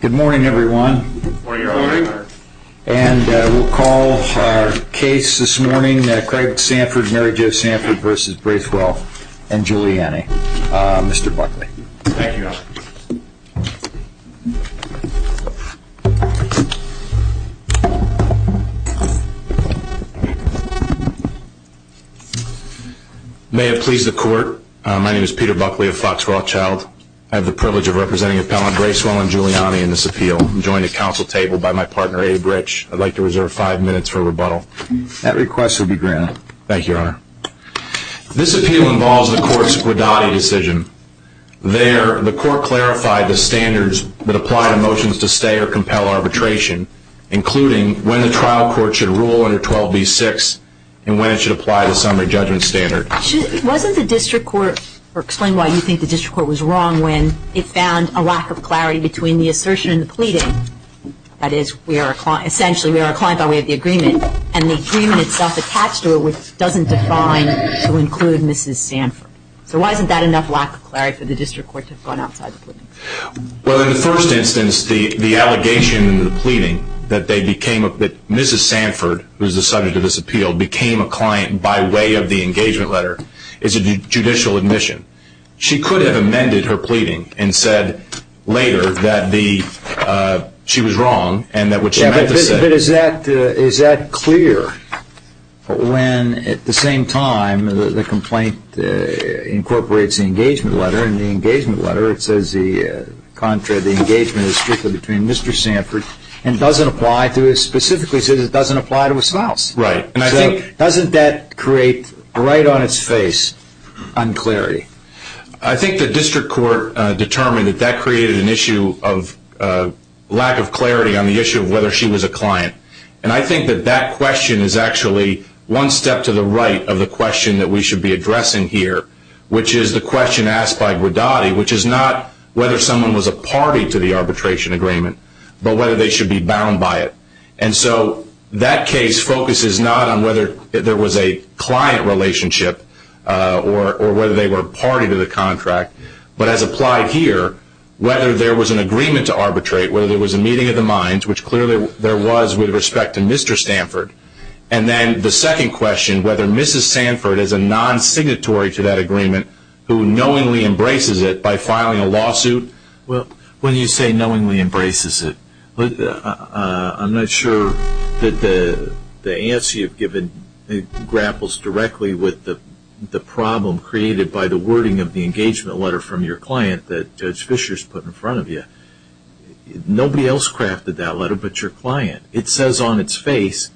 Good morning everyone. And we'll call our case this morning Craig Sanford, Mary Jo Sanford v. Bracewell and Julie Anne, Mr. Buckley. Thank you. May it please the court. My name is Peter Buckley of Fox Rothschild. I have the privilege of representing Appellant Bracewell and Julie Anne in this appeal. I'm joined at council table by my partner Abe Rich. I'd like to reserve five minutes for rebuttal. That request will be granted. Thank you, Your Honor. This appeal involves the court's Guadagni decision. There, the court clarified the standards that apply to motions to stay or compel arbitration, including when the trial court should rule under 12b-6 and when it should apply the summary judgment standard. Wasn't the district court, or explain why you think the district court was wrong when it found a lack of clarity between the assertion and the pleading? That is, essentially we are a client by way of the agreement and the agreement itself attached to it doesn't define to include Mrs. Sanford. So why isn't that enough lack of clarity for the district court to have gone outside the pleading? Well, in the first instance, the allegation and the pleading that Mrs. Sanford, who is the subject of this appeal, became a client by way of the engagement letter is a judicial admission. She could have amended her pleading and said later that she was wrong and that what she meant to say... But is that clear when at the same time the complaint incorporates the engagement letter and the engagement letter it says the engagement is strictly between Mr. Sanford and doesn't apply to, it specifically says it doesn't apply to a spouse. Right. So doesn't that create right on its face unclarity? I think the district court determined that that created an issue of lack of clarity on the issue of whether she was a client. And I think that that question is actually one step to the right of the question that we should be addressing here, which is the question asked by Gridotti, which is not whether someone was a party to the arbitration agreement, but whether they should be bound by it. And so that case focuses not on whether there was a client relationship or whether they were a party to the contract, but as applied here, whether there was an agreement to arbitrate, whether there was a meeting of the minds, which clearly there was with respect to Mr. Stanford. And then the second question, whether Mrs. Sanford is a non-signatory to that agreement who knowingly embraces it by filing a lawsuit. Well, when you say knowingly embraces it, I'm not sure that the answer you've given grapples directly with the problem created by the wording of the engagement letter from your client that Judge Fischer has put in front of you. Nobody else crafted that letter but your client. It says on its face,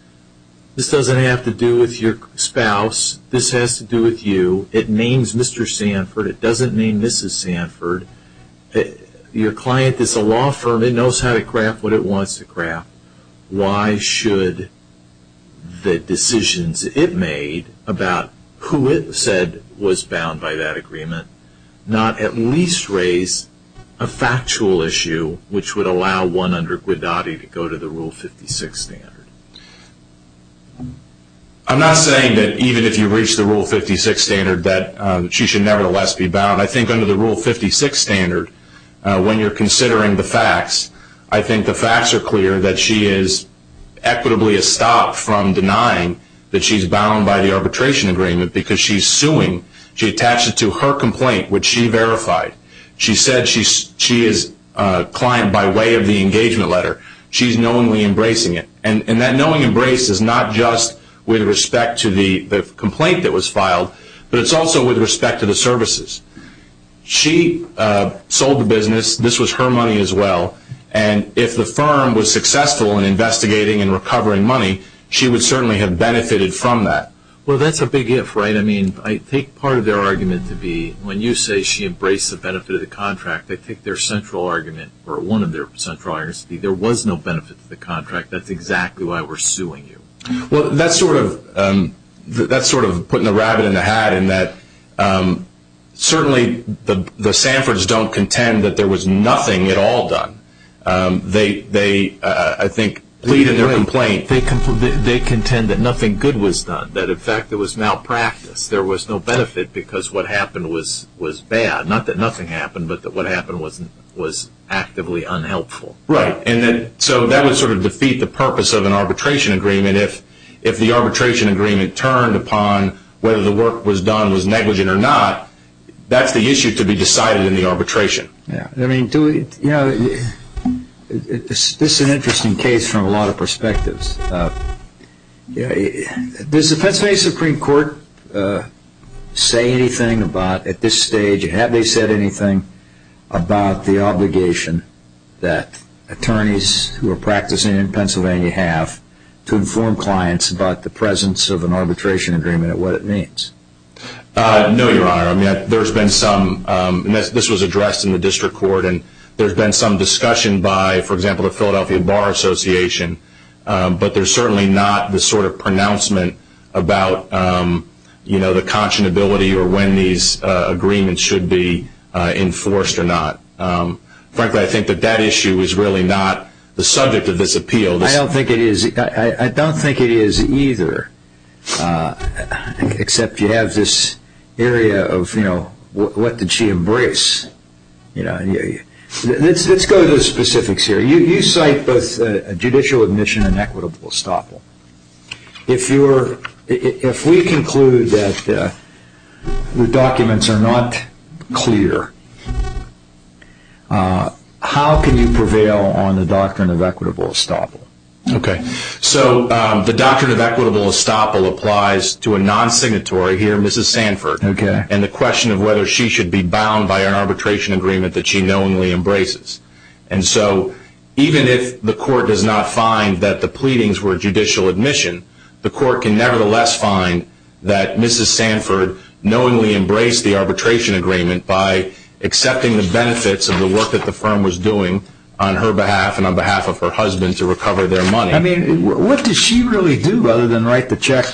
this doesn't have to do with your spouse. This has to do with you. It names Mr. Sanford. It doesn't name Mrs. Sanford. Your client is a law firm. It knows how to craft what it wants to craft. Why should the decisions it made about who it said was bound by that agreement not at least raise a factual issue which would allow one under Guidati to go to the Rule 56 standard? I'm not saying that even if you reach the Rule 56 standard that she should nevertheless be bound. I think under the Rule 56 standard, when you're considering the facts, I think the facts are clear that she is equitably a stop from denying that she's bound by the arbitration agreement because she's suing. She attached it to her complaint which she verified. She said she is a client by way of the engagement letter. She's knowingly embracing it. That knowingly embrace is not just with respect to the complaint that was filed but it's also with respect to the services. She sold the business. This was her money as well. If the firm was successful in investigating and recovering money, she would certainly have benefited from that. That's a big if. I take part of their argument to be when you say she embraced the benefit of the contract, they take their central argument or one of their central arguments to be there was no benefit to the contract. That's exactly why we're suing you. That's sort of putting the rabbit in the hat in that certainly the Sanfords don't contend that there was nothing at all done. They contend that nothing good was done, that in fact it was malpractice. There was no benefit because what happened was bad. Not that nothing happened but that what happened was actively unhelpful. That would sort of defeat the purpose of an arbitration agreement if the arbitration agreement turned upon whether the work was done was negligent or not. That's the issue to be decided in the arbitration. This is an interesting case from a lot of perspectives. Does the Pennsylvania Supreme Court say anything about at this stage, have they said anything about the obligation that attorneys who are practicing in Pennsylvania have to inform clients about the presence of an arbitration agreement and what it means? No, Your Honor. This was addressed in the district court and there's been some discussion by, for example, the Philadelphia Bar Association, but there's certainly not the sort of pronouncement about the conscionability or when these agreements should be enforced or not. Frankly, I think that that issue is really not the subject of this appeal. I don't think it is either, except you have this area of what did she embrace. Let's go to the specifics here. You cite both judicial admission and equitable estoppel. If we conclude that the documents are not clear, how can you prevail on the doctrine of equitable estoppel? The doctrine of equitable estoppel applies to a non-signatory here, Mrs. Sanford, and the question of whether she should be bound by an arbitration agreement that she knowingly embraces. Even if the court does not find that the pleadings were judicial admission, the court can nevertheless find that Mrs. Sanford knowingly embraced the arbitration agreement by accepting the benefits of the work that the firm was doing on her behalf and on behalf of her husband to recover their money. What did she really do other than write the check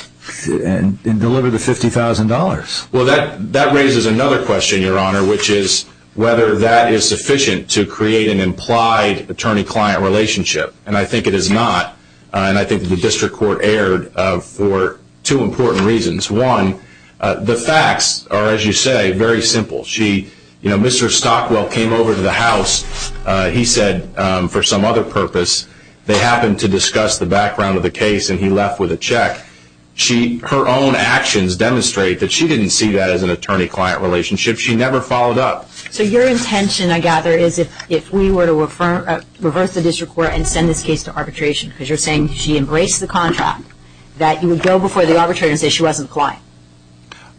and deliver the $50,000? That raises another question, Your Honor, which is whether that is sufficient to create an implied attorney-client relationship, and I think it is not. I think the district court erred for two important reasons. One, the facts are, as you say, very simple. Mr. Stockwell came over to the House, he said, for some other purpose. They happened to discuss the background of the case, and he left with a check. Her own actions demonstrate that she did not see that as an attorney-client relationship. She never followed up. So your intention, I gather, is if we were to reverse the district court and send this case to arbitration, because you are saying she embraced the contract, that you would go before the arbitrator and say she was not the client.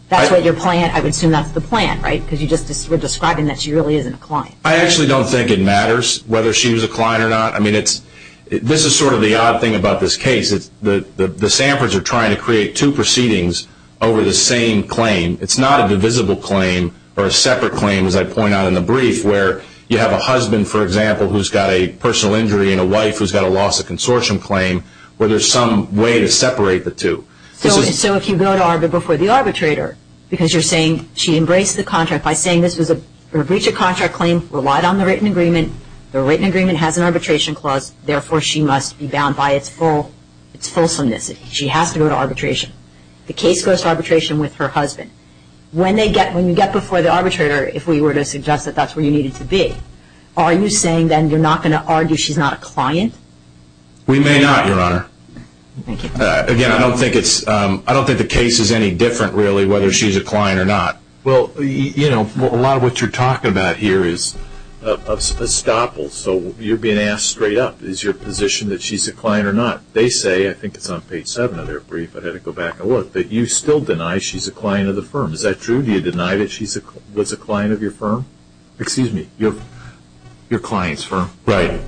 That is what your plan, I would assume that is the plan, right? Because you are just describing that she really is not a client. I actually do not think it matters whether she was a client or not. I mean, this is sort of the odd thing about this case. The Samford's are trying to create two proceedings over the same claim. It is not a divisible claim or a separate claim, as I point out in the brief, where you have a husband, for example, who has got a personal injury and a wife who has got a loss of consortium claim where there is some way to separate the two. So if you go before the arbitrator, because you are saying she embraced the contract by saying this was a breach of contract claim, relied on the written agreement, the written agreement has an arbitration clause, therefore she must be bound by its fulsomeness. She has to go to arbitration. The case goes to arbitration with her husband. When you get before the arbitrator, if we were to suggest that that is where you needed to be, are you saying then you are not going to argue she is not a client? Again, I do not think the case is any different, really, whether she is a client or not. Well, a lot of what you are talking about here is estoppel. So you are being asked straight up, is your position that she is a client or not? They say, I think it is on page 7 of their brief, I had to go back and look, that you still deny she is a client of the firm. Is that true? Do you deny that she was a client of your firm? Excuse me, your client's firm? Right.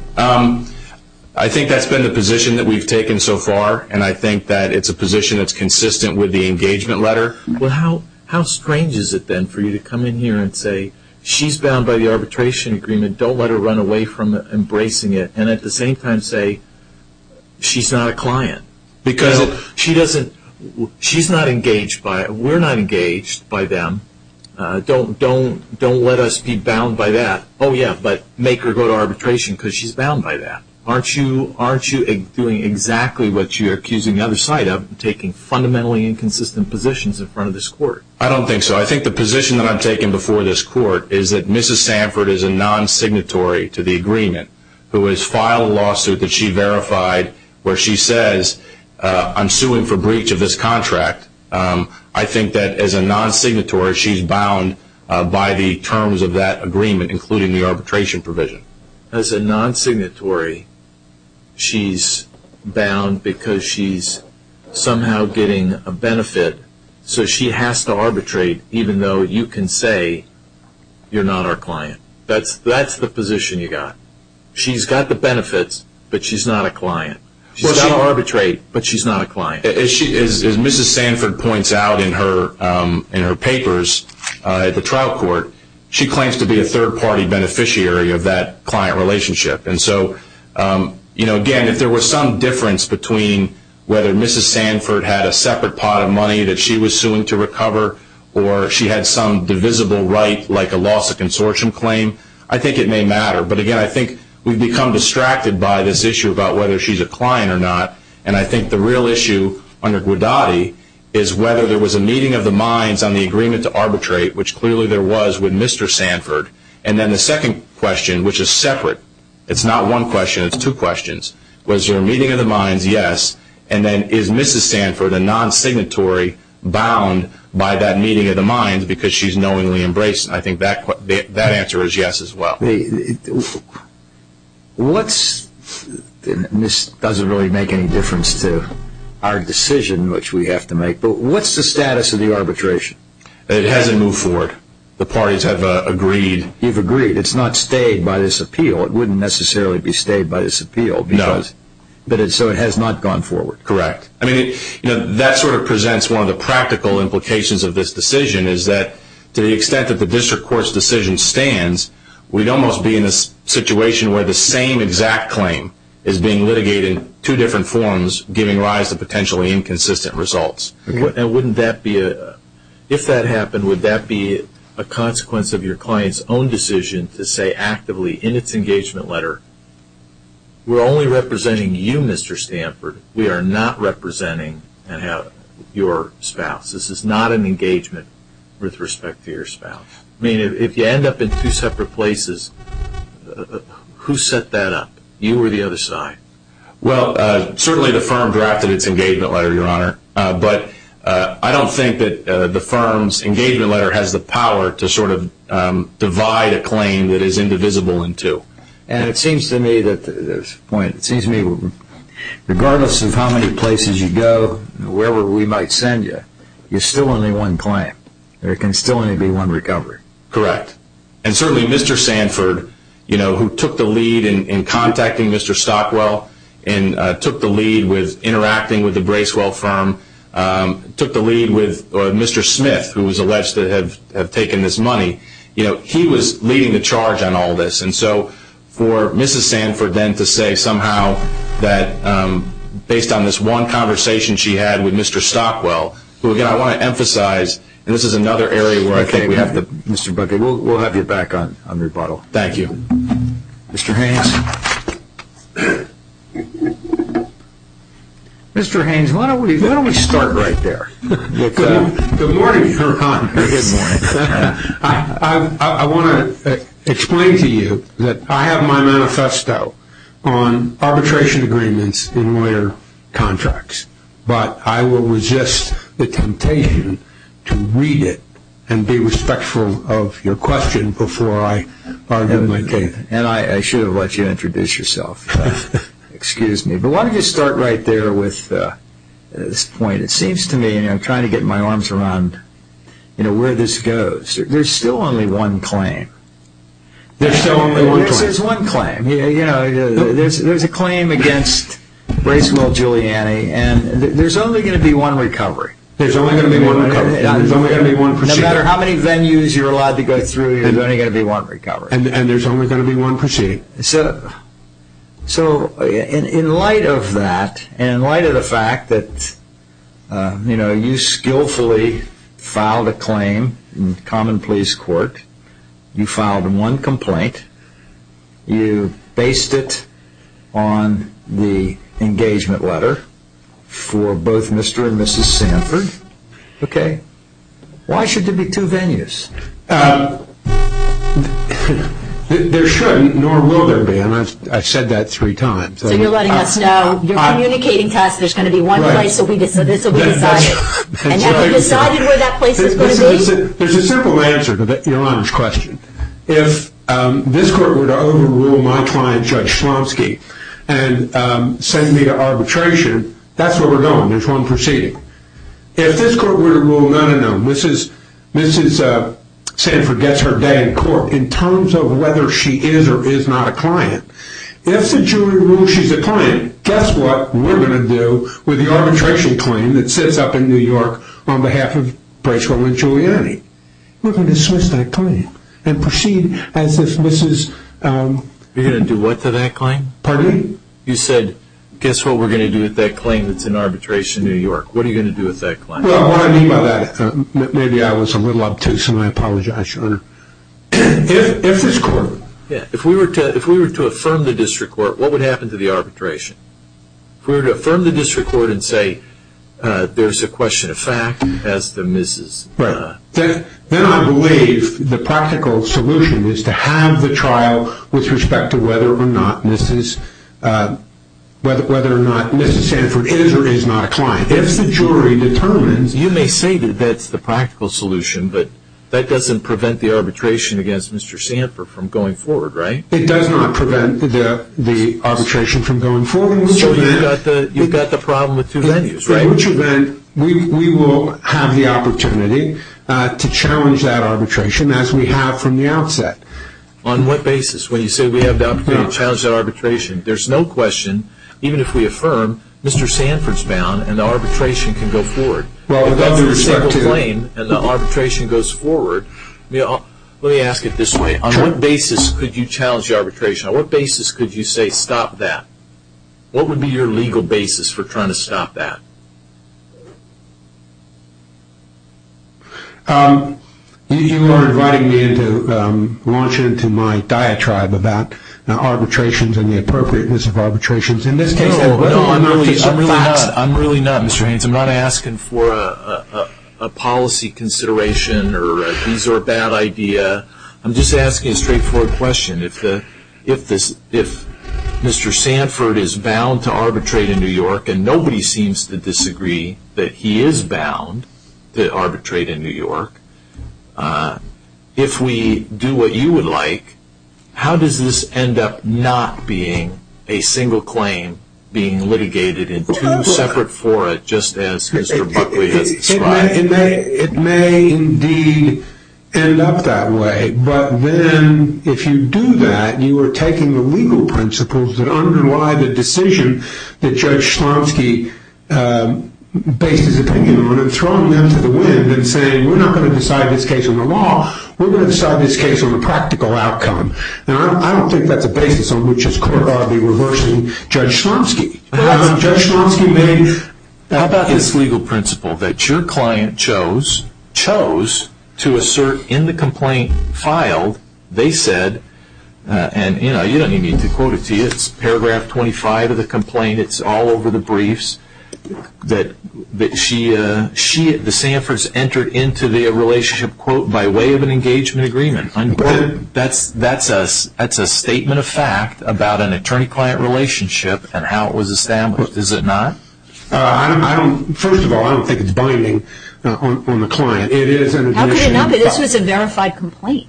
I think that has been the position that we have taken so far, and I think that it is a position that is consistent with the engagement letter. Well, how strange is it then for you to come in here and say she is bound by the arbitration agreement, do not let her run away from embracing it, and at the same time say she is not a client? Because she is not engaged by it, we are not engaged by them, do not let us be bound by that, oh yeah, but make her go to arbitration because she is bound by that. Aren't you doing exactly what you are accusing the other side of, taking fundamentally inconsistent positions in front of this court? I do not think so. I think the position that I am taking before this court is that Mrs. Sanford is a non-signatory to the agreement, who has filed a lawsuit that she verified, where she says, I am suing for breach of this contract. I think that as a non-signatory, she is bound by the terms of that agreement, including the arbitration provision. As a non-signatory, she is bound because she is somehow getting a benefit, so she has to arbitrate, even though you can say you are not our client. That is the position you have. She has the benefits, but she is not a client. She has to arbitrate, but she is not a client. As Mrs. Sanford points out in her papers at the trial court, she claims to be a third-party beneficiary of that client relationship. Again, if there was some difference between whether Mrs. Sanford had a separate pot of money that she was suing to recover, or she had some divisible right, like a loss of consortium claim, I think it may matter. But again, I think we have become distracted by this issue about whether she is a client or not, and I think the real issue under Gwadadi is whether there was a meeting of the minds on the agreement to arbitrate, which clearly there was with Mr. Sanford. And then the second question, which is separate, it is not one question, it is two questions. Was there a meeting of the minds? Yes. And then, is Mrs. Sanford a non-signatory bound by that meeting of the minds because she is knowingly embraced? I think that answer is yes as well. This doesn't really make any difference to our decision, which we have to make, but what is the status of the arbitration? It hasn't moved forward. The parties have agreed. You've agreed. It's not stayed by this appeal. It wouldn't necessarily be stayed by this appeal. No. So it has not gone forward. Correct. That sort of presents one of the practical implications of this decision is that to the extent that the district court's decision stands, we would almost be in a situation where the same exact claim is being litigated in two different forms, giving rise to potentially inconsistent results. If that happened, would that be a consequence of your client's own decision to say actively in its engagement letter, we're only representing you, Mr. Sanford. We are not representing your spouse. This is not an engagement with respect to your spouse. If you end up in two separate places, who set that up? You or the other side? Well, certainly the firm drafted its engagement letter, Your Honor, but I don't think that the firm's engagement letter has the power to sort of divide a claim that is indivisible in two. And it seems to me that regardless of how many places you go, wherever we might send you, there's still only one claim. There can still only be one recovery. Correct. And certainly Mr. Sanford, who took the lead in contacting Mr. Stockwell and took the lead with interacting with the Bracewell firm, took the lead with Mr. Smith, who was alleged to have taken this money, he was leading the charge on all this. And so for Mrs. Sanford then to say somehow that based on this one conversation she had with Mr. Stockwell, who again I want to emphasize, and this is another area where I think we have to... Mr. Buckett, we'll have you back on rebuttal. Thank you. Mr. Haynes. Mr. Haynes, why don't we start right there. Good morning, Your Honor. Good morning. I want to explain to you that I have my manifesto on arbitration agreements in lawyer contracts, but I will resist the temptation to read it and be respectful of your question before I argue my case. And I should have let you introduce yourself. Excuse me. But why don't you start right there with this point. It seems to me, and I'm trying to get my arms around where this goes, there's still only one claim. There's still only one claim. There's one claim. There's a claim against Bracewell Giuliani and there's only going to be one recovery. There's only going to be one recovery. No matter how many venues you're allowed to go through, there's only going to be one recovery. And there's only going to be one proceeding. So, in light of that, and in light of the fact that, you know, you skillfully filed a claim in common pleas court, you filed one complaint, you based it on the engagement letter for both Mr. and Mrs. Sanford, okay, why should there be two venues? There shouldn't, nor will there be, and I've said that three times. So you're letting us know, you're communicating to us, there's going to be one place, so we decided. And have you decided where that place is going to be? There's a simple answer to your honest question. If this court were to overrule my client, Judge Slomski, and send me to arbitration, that's where we're going, there's one proceeding. If this court were to rule, no, no, no, Mrs. Sanford gets her day in court in terms of whether she is or is not a client. If the jury rules she's a client, guess what we're going to do with the arbitration claim that sits up in New York on behalf of Bracewell and Giuliani? We're going to dismiss that claim and proceed as if Mrs. You're going to do what to that claim? Pardon me? You said, guess what we're going to do with that claim that's in arbitration in New York? What are you going to do with that claim? Well, what I mean by that, maybe I was a little obtuse and I apologize, Your Honor. If this court, If we were to affirm the district court, what would happen to the arbitration? If we were to affirm the district court and say, there's a question of fact, as to Mrs. Then I believe the practical solution is to have the trial with respect to whether or not Mrs. Whether or not Mrs. Sanford is or is not a client. If the jury determines You may say that that's the practical solution, but that doesn't prevent the arbitration against Mr. Sanford from going forward, right? It does not prevent the arbitration from going forward. So you've got the problem with two venues, right? We will have the opportunity to challenge that arbitration as we have from the outset. On what basis? When you say we have the opportunity to challenge that arbitration, there's no question, even if we affirm, Mr. Sanford's bound and the arbitration can go forward. Well, with all due respect to If that's your single claim and the arbitration goes forward, let me ask it this way. On what basis could you challenge the arbitration? On what basis could you say, stop that? What would be your legal basis for trying to stop that? You are inviting me to launch into my diatribe about arbitrations and the appropriateness of arbitrations. No, I'm really not, Mr. Haynes. I'm not asking for a policy consideration or these are a bad idea. I'm just asking a straightforward question. If Mr. Sanford is bound to arbitrate in New York and nobody seems to disagree that he is bound to arbitrate in New York, if we do what you would like, how does this end up not being a single claim being litigated in two separate fora just as Mr. Buckley has described? It may indeed end up that way, but then if you do that, you are taking the legal principles that underlie the decision that Judge Slomski based his opinion on and throwing them to the wind and saying, we're not going to decide this case on the law, we're going to decide this case on the practical outcome. I don't think that's a basis on which his court ought to be reversing Judge Slomski. Judge Slomski, how about this legal principle that your client chose to assert in the complaint filed, they said, and you don't even need to quote it to you, it's paragraph 25 of the complaint, it's all over the briefs, that the Sanfords entered into the relationship, quote, by way of an engagement agreement. That's a statement of fact about an attorney-client relationship and how it was established, is it not? First of all, I don't think it's binding on the client. How could it not be? This was a verified complaint.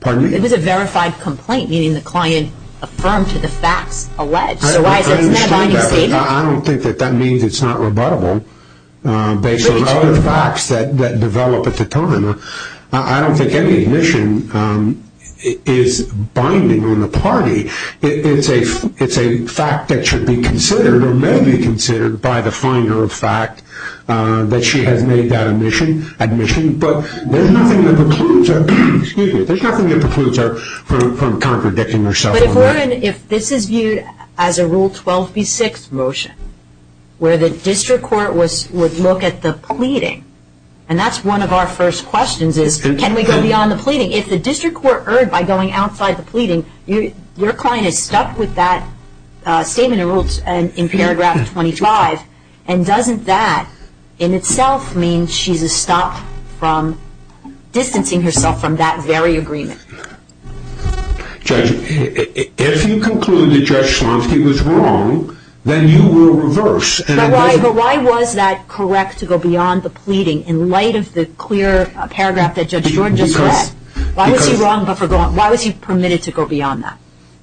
Pardon me? It was a verified complaint, meaning the client affirmed to the facts alleged. I don't think that means it's not rebuttable based on other facts that develop at the time. I don't think any admission is binding on the party. It's a fact that should be considered or may be considered by the finder of fact that she has made that admission, but there's nothing that precludes her from contradicting herself on that. Jordan, if this is viewed as a Rule 12b-6 motion, where the district court would look at the pleading, and that's one of our first questions is, can we go beyond the pleading? If the district court heard by going outside the pleading, your client is stuck with that statement of rules in paragraph 25, and doesn't that in itself mean she's a stop from distancing herself from that very agreement? Judge, if you conclude that Judge Slonsky was wrong, then you will reverse. But why was that correct to go beyond the pleading in light of the clear paragraph that Judge Jordan just read? Why was he permitted to go beyond that?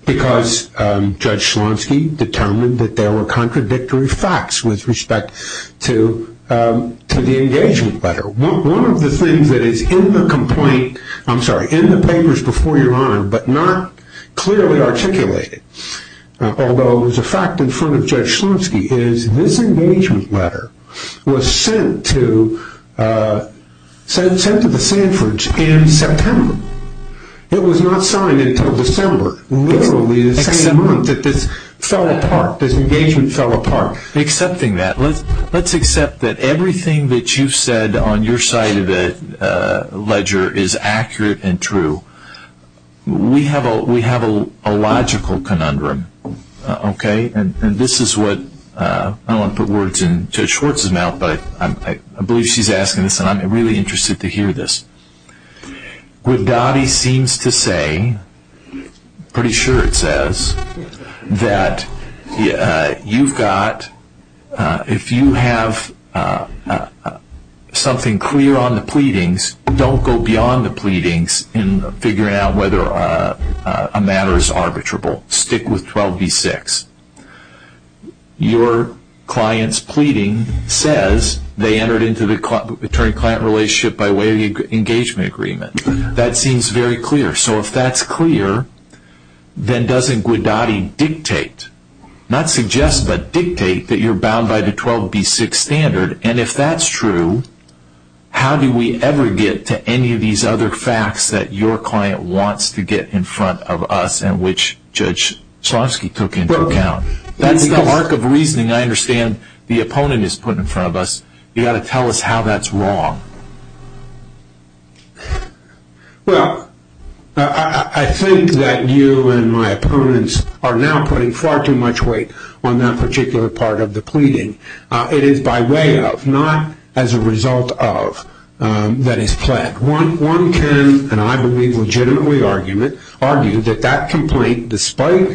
Because Judge Slonsky determined that there were contradictory facts with respect to the engagement letter. One of the things that is in the papers before your honor, but not clearly articulated, although it was a fact in front of Judge Slonsky, is this engagement letter was sent to the Sanfords in September. It was not signed until December, literally the same month that this fell apart, this engagement fell apart. Accepting that, let's accept that everything that you've said on your side of the ledger is accurate and true. We have a logical conundrum, okay? And this is what, I don't want to put words in Judge Schwartz's mouth, but I believe she's asking this and I'm really interested to hear this. Guidotti seems to say, pretty sure it says, that you've got, if you have something clear on the pleadings, don't go beyond the pleadings in figuring out whether a matter is arbitrable. Stick with 12b-6. Your client's pleading says they entered into the attorney-client relationship by way of the engagement agreement. That seems very clear. So if that's clear, then doesn't Guidotti dictate, not suggest, but dictate that you're bound by the 12b-6 standard? And if that's true, how do we ever get to any of these other facts that your client wants to get in front of us and which Judge Slonsky took into account? That's the arc of reasoning I understand the opponent is putting in front of us. You've got to tell us how that's wrong. Well, I think that you and my opponents are now putting far too much weight on that particular part of the pleading. It is by way of, not as a result of, that is planned. One can, and I believe legitimately, argue that that complaint, despite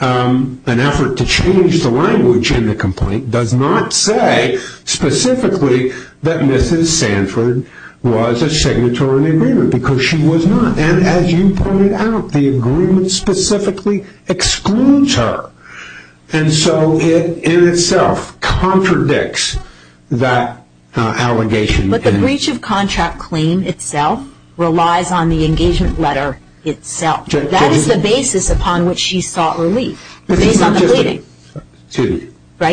an effort to change the language in the complaint, does not say specifically that Mrs. Sanford was a signatory in the agreement, because she was not. And as you pointed out, the agreement specifically excludes her. And so it, in itself, contradicts that allegation. But the breach of contract claim itself relies on the engagement letter itself. That is the basis upon which she sought relief. Based on the pleading.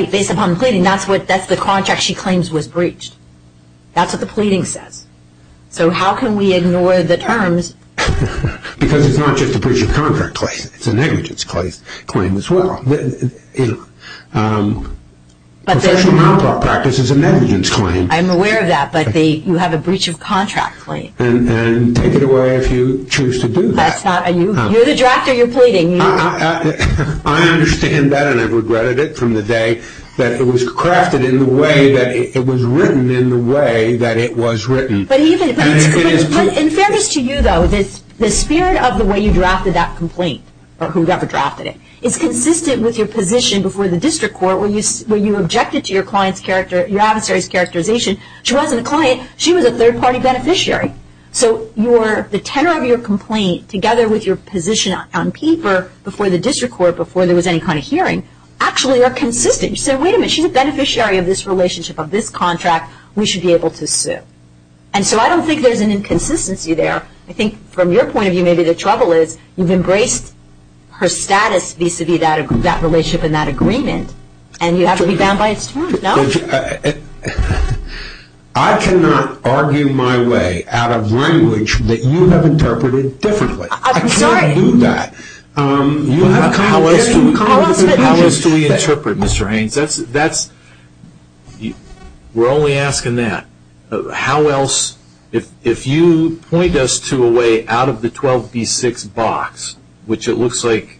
Based upon the pleading, that's the contract she claims was breached. That's what the pleading says. So how can we ignore the terms? Because it's not just a breach of contract claim. It's a negligence claim as well. Professional malpractice is a negligence claim. I'm aware of that, but you have a breach of contract claim. And take it away if you choose to do that. You're the drafter, you're pleading. I understand that, and I've regretted it from the day that it was crafted in the way that it was written in the way that it was written. In fairness to you, though, the spirit of the way you drafted that complaint, or whoever drafted it, is consistent with your position before the district court when you objected to your adversary's characterization. She wasn't a client. She was a third-party beneficiary. So the tenor of your complaint, together with your position on paper before the district court, before there was any kind of hearing, actually are consistent. You said, wait a minute, she's a beneficiary of this relationship, of this contract. We should be able to sue. And so I don't think there's an inconsistency there. I think from your point of view, maybe the trouble is you've embraced her status vis-a-vis that relationship and that agreement, and you have to be bound by its terms. No? I cannot argue my way out of language that you have interpreted differently. I'm sorry. I can't do that. How else do we interpret, Mr. Haynes? We're only asking that. How else? If you point us to a way out of the 12B6 box, which it looks like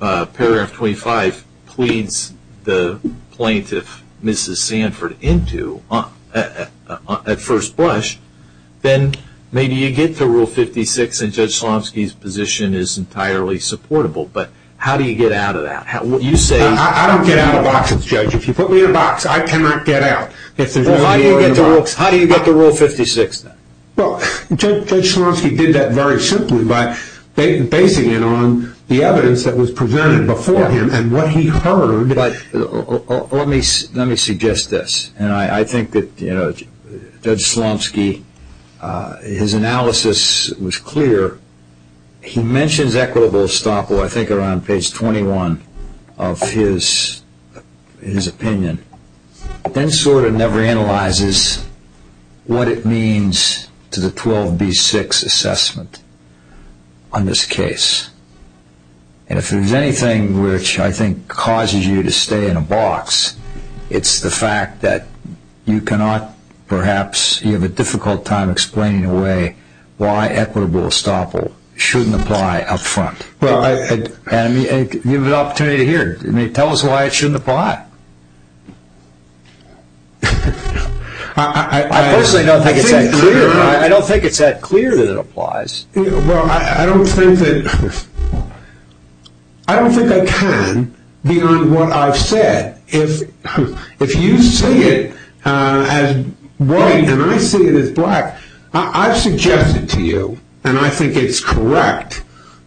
paragraph 25 pleads the plaintiff, Mrs. Sanford, into at first blush, then maybe you get to Rule 56, and Judge Slomski's position is entirely supportable. But how do you get out of that? I don't get out of boxes, Judge. If you put me in a box, I cannot get out. How do you get to Rule 56? Judge Slomski did that very simply by basing it on the evidence that was presented before him and what he heard. Let me suggest this. I think that Judge Slomski, his analysis was clear. He mentions equitable estoppel, I think, around page 21 of his opinion, but then sort of never analyzes what it means to the 12B6 assessment on this case. If there's anything which I think causes you to stay in a box, it's the fact that you cannot perhaps, you have a difficult time explaining away why equitable estoppel shouldn't apply up front. You have an opportunity to hear it. Tell us why it shouldn't apply. I personally don't think it's that clear. I don't think it's that clear that it applies. Well, I don't think that, I don't think I can, beyond what I've said. If you see it as white and I see it as black, I've suggested to you, and I think it's correct,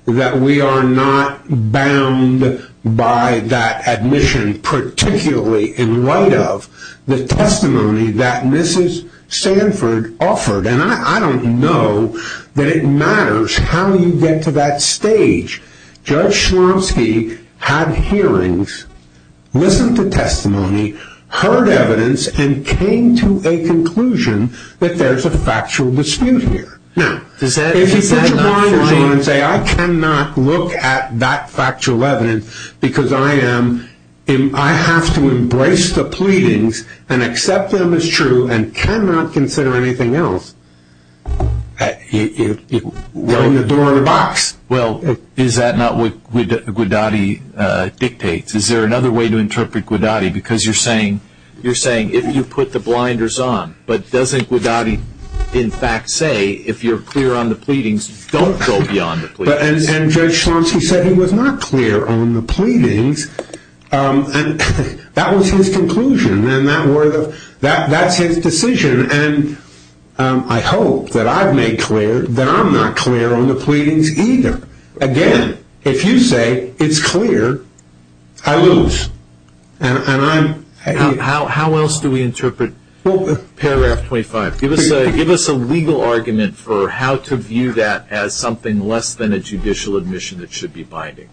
that we are not bound by that admission, particularly in light of the testimony that Mrs. Sanford offered. And I don't know that it matters how you get to that stage. Judge Slomski had hearings, listened to testimony, heard evidence, and came to a conclusion that there's a factual dispute here. Now, if you put your blinders on and say, I cannot look at that factual evidence because I am, I have to embrace the pleadings and accept them as true and cannot consider anything else, it will ring the door in a box. Well, is that not what Guidotti dictates? Is there another way to interpret Guidotti? Because you're saying, you're saying, if you put the blinders on, but doesn't Guidotti in fact say, if you're clear on the pleadings, don't go beyond the pleadings? And Judge Slomski said he was not clear on the pleadings. And that was his conclusion, and that's his decision. And I hope that I've made clear that I'm not clear on the pleadings either. Again, if you say it's clear, I lose. And I'm... How else do we interpret paragraph 25? Give us a legal argument for how to view that as something less than a judicial admission that should be binding.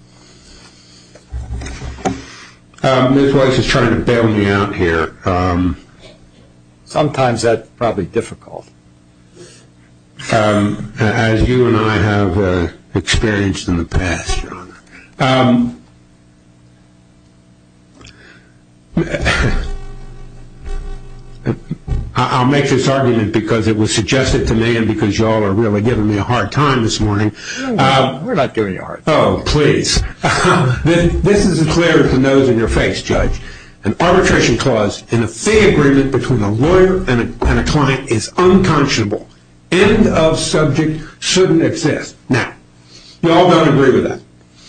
This voice is trying to bail me out here. Sometimes that's probably difficult. As you and I have experienced in the past, Your Honor. I'll make this argument because it was suggested to me and because you all are really giving me a hard time this morning. We're not giving you a hard time. This is as clear as the nose in your face, Judge. An arbitration clause in a fee agreement between a lawyer and a client is unconscionable. End of subject shouldn't exist. Now, you all don't agree with that.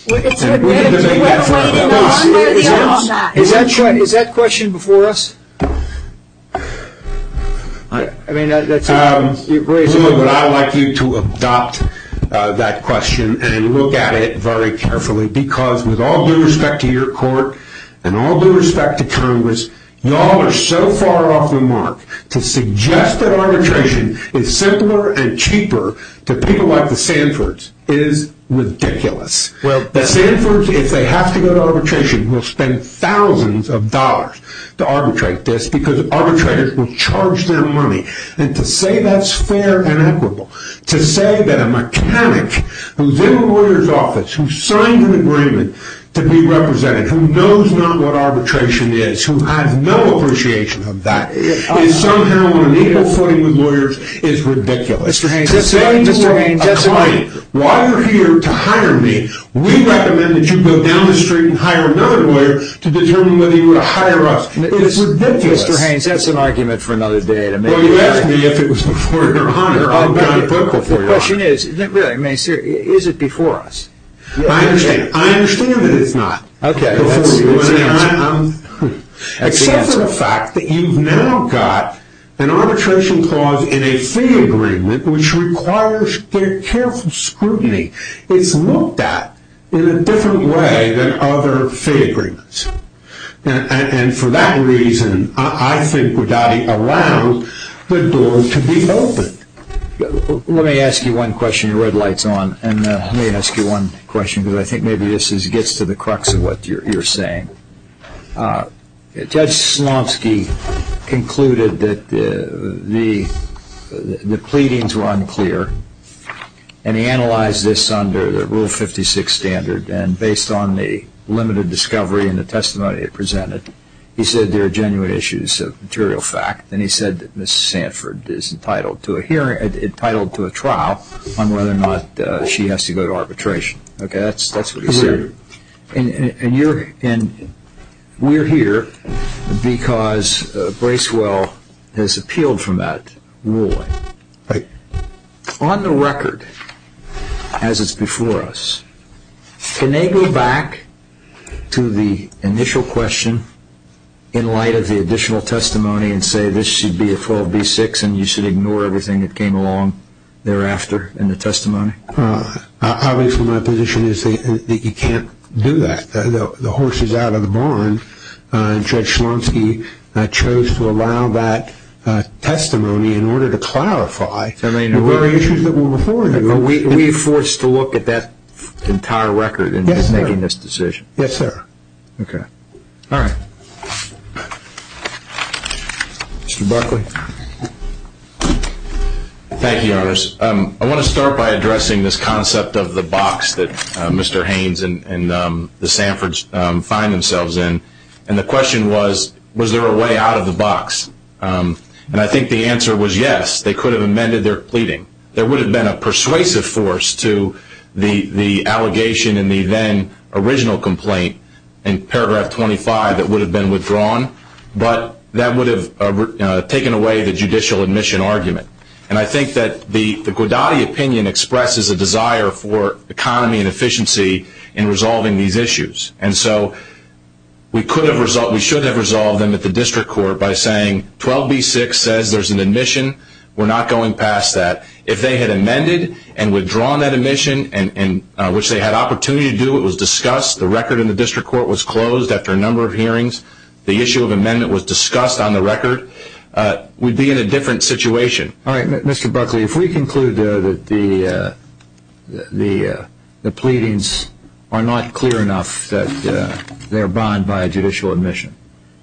We need to make that clear. Is that question before us? I like you to adopt that question and look at it very carefully because with all due respect to your court and all due respect to Congress, you all are so far off the mark to suggest that arbitration is simpler and cheaper to people like the Sanfords. It is ridiculous. The Sanfords, if they have to go to arbitration, will spend thousands of dollars to arbitrate this will charge them money. And to say that's fair and equitable, to say that a mechanic who's in a lawyer's office, who signs an agreement to be represented, who knows not what arbitration is, who has no appreciation of that, is somehow on an equal footing with lawyers, is ridiculous. To say you are a client, while you're here to hire me, we recommend that you go down the street and hire another lawyer to determine whether you would hire us. It's ridiculous. Well, you asked me if it was before your honor. The question is, is it before us? I understand that it's not. Except for the fact that you've now got an arbitration clause in a fee agreement which requires careful scrutiny. It's looked at in a different way than other fee agreements. And for that reason, I think we've got to allow the door to be opened. Let me ask you one question. Your red light's on. And let me ask you one question, because I think maybe this gets to the crux of what you're saying. Judge Slomski concluded that the pleadings were unclear. And he analyzed this under the Rule 56 standard. And based on the limited discovery and the testimony he presented, he said there are genuine issues of material fact. And he said that Mrs. Sanford is entitled to a trial on whether or not she has to go to arbitration. That's what he said. And we're here because Bracewell has appealed from that ruling. On the record, as it's before us, can they go back to the initial question in light of the additional testimony and say this should be a 12B6 and you should ignore everything that came along thereafter in the testimony? Obviously, my position is that you can't do that. The horse is out of the barn. Judge Slomski chose to allow that testimony in order to clarify the very issues that were before him. We're forced to look at that entire record in making this decision? Yes, sir. Okay. All right. Mr. Buckley. Thank you, Your Honor. I want to start by addressing this concept of the box that Mr. Haynes and the Sanfords find themselves in. And the question was, was there a way out of the box? And I think the answer was yes. They could have amended their pleading. There would have been a persuasive force to the allegation in the then original complaint, in paragraph 25, that would have been withdrawn. But that would have taken away the judicial admission argument. And I think that the Guadagni opinion expresses a desire for economy and efficiency in resolving these issues. And so we should have resolved them at the district court by saying 12b-6 says there's an admission. We're not going past that. If they had amended and withdrawn that admission, which they had opportunity to do, it was discussed. The record in the district court was closed after a number of hearings. The issue of amendment was discussed on the record. We'd be in a different situation. All right. Mr. Buckley, if we conclude that the pleadings are not clear enough that they're bound by a judicial admission,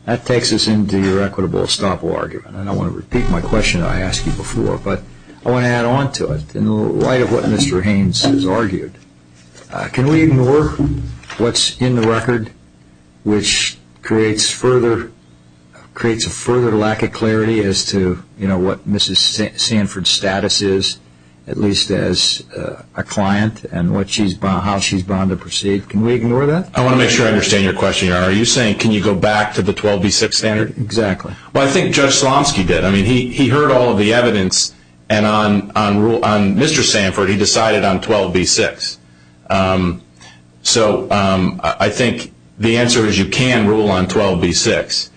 that takes us into your equitable estoppel argument. And I want to repeat my question that I asked you before, but I want to add on to it. In light of what Mr. Haynes has argued, can we ignore what's in the record, which creates a further lack of clarity as to what Mrs. Sanford's status is, at least as a client, and how she's bound to proceed? Can we ignore that? I want to make sure I understand your question. Are you saying can you go back to the 12b-6 standard? Exactly. Well, I think Judge Slomski did. He heard all of the evidence, and on Mr. Sanford, he decided on 12b-6. So I think the answer is you can rule on 12b-6.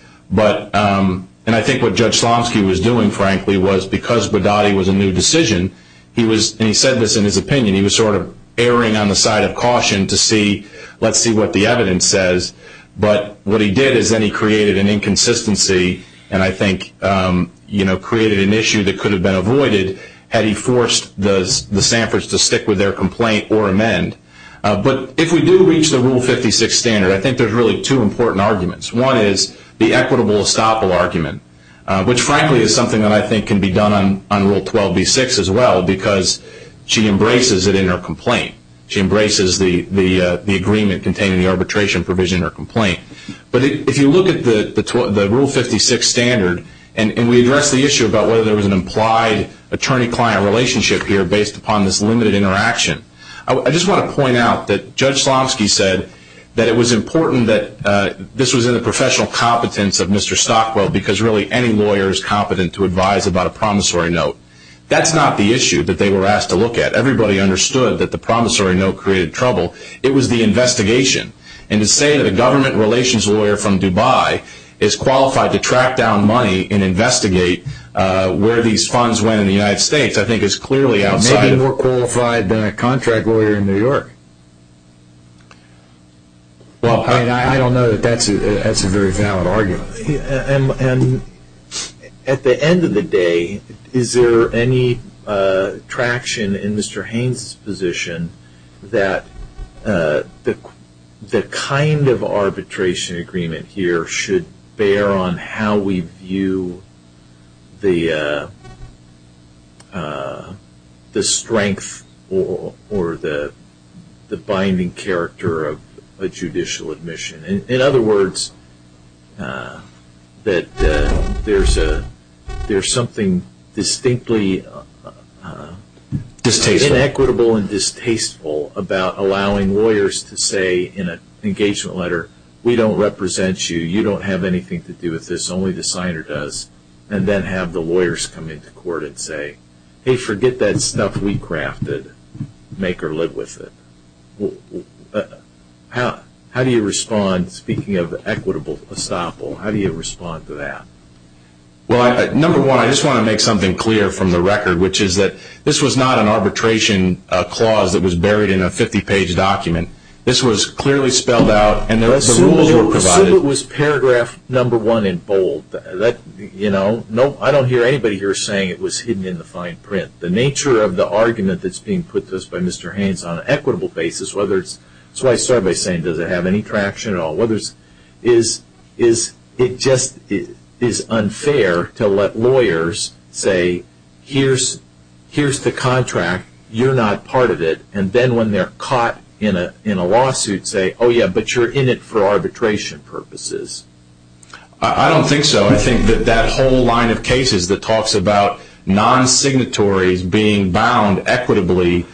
And I think what Judge Slomski was doing, frankly, was because Bodatti was a new decision, and he said this in his opinion, he was sort of erring on the side of caution to see, let's see what the evidence says. But what he did is then he created an inconsistency, and I think created an issue that could have been avoided had he forced the Sanfords to stick with their complaint or amend. But if we do reach the Rule 56 standard, I think there's really two important arguments. One is the equitable estoppel argument, which frankly is something that I think can be done on Rule 12b-6 as well, because she embraces it in her complaint. She embraces the agreement containing the arbitration provision in her complaint. But if you look at the Rule 56 standard, and we address the issue about whether there was an implied attorney-client relationship here based upon this limited interaction, I just want to point out that Judge Slomski said that it was important that this was in the professional competence of Mr. Stockwell, because really any lawyer is competent to advise about a promissory note. That's not the issue that they were asked to look at. Everybody understood that the promissory note created trouble. It was the investigation. And to say that a government relations lawyer from Dubai is qualified to track down money and investigate where these funds went in the United States, I think is clearly outside... He may be more qualified than a contract lawyer in New York. Well, I don't know that that's a very valid argument. At the end of the day, is there any traction in Mr. Haynes' position that the kind of arbitration agreement here should bear on how we view the strength or the binding character of a judicial admission? In other words, that there's something distinctly inequitable and distasteful about allowing lawyers to say in an engagement letter, we don't represent you, you don't have anything to do with this, only the signer does, and then have the lawyers come into court and say, hey, forget that stuff we crafted, make or live with it. How do you respond, speaking of equitable estoppel, how do you respond to that? Well, number one, I just want to make something clear from the record, which is that this was not an arbitration clause that was buried in a 50-page document. This was clearly spelled out and the rules were provided... Assume it was paragraph number one in bold. I don't hear anybody here saying it was hidden in the fine print. The nature of the argument that's being put to us by Mr. Haynes on an equitable basis, whether it's... that's why I started by saying, does it have any traction at all? Whether it's... it just is unfair to let lawyers say, here's the contract, you're not part of it, and then when they're caught in a lawsuit say, oh yeah, but you're in it for arbitration purposes. I don't think so. I think that that whole line of cases that talks about non-signatories being bound equitably...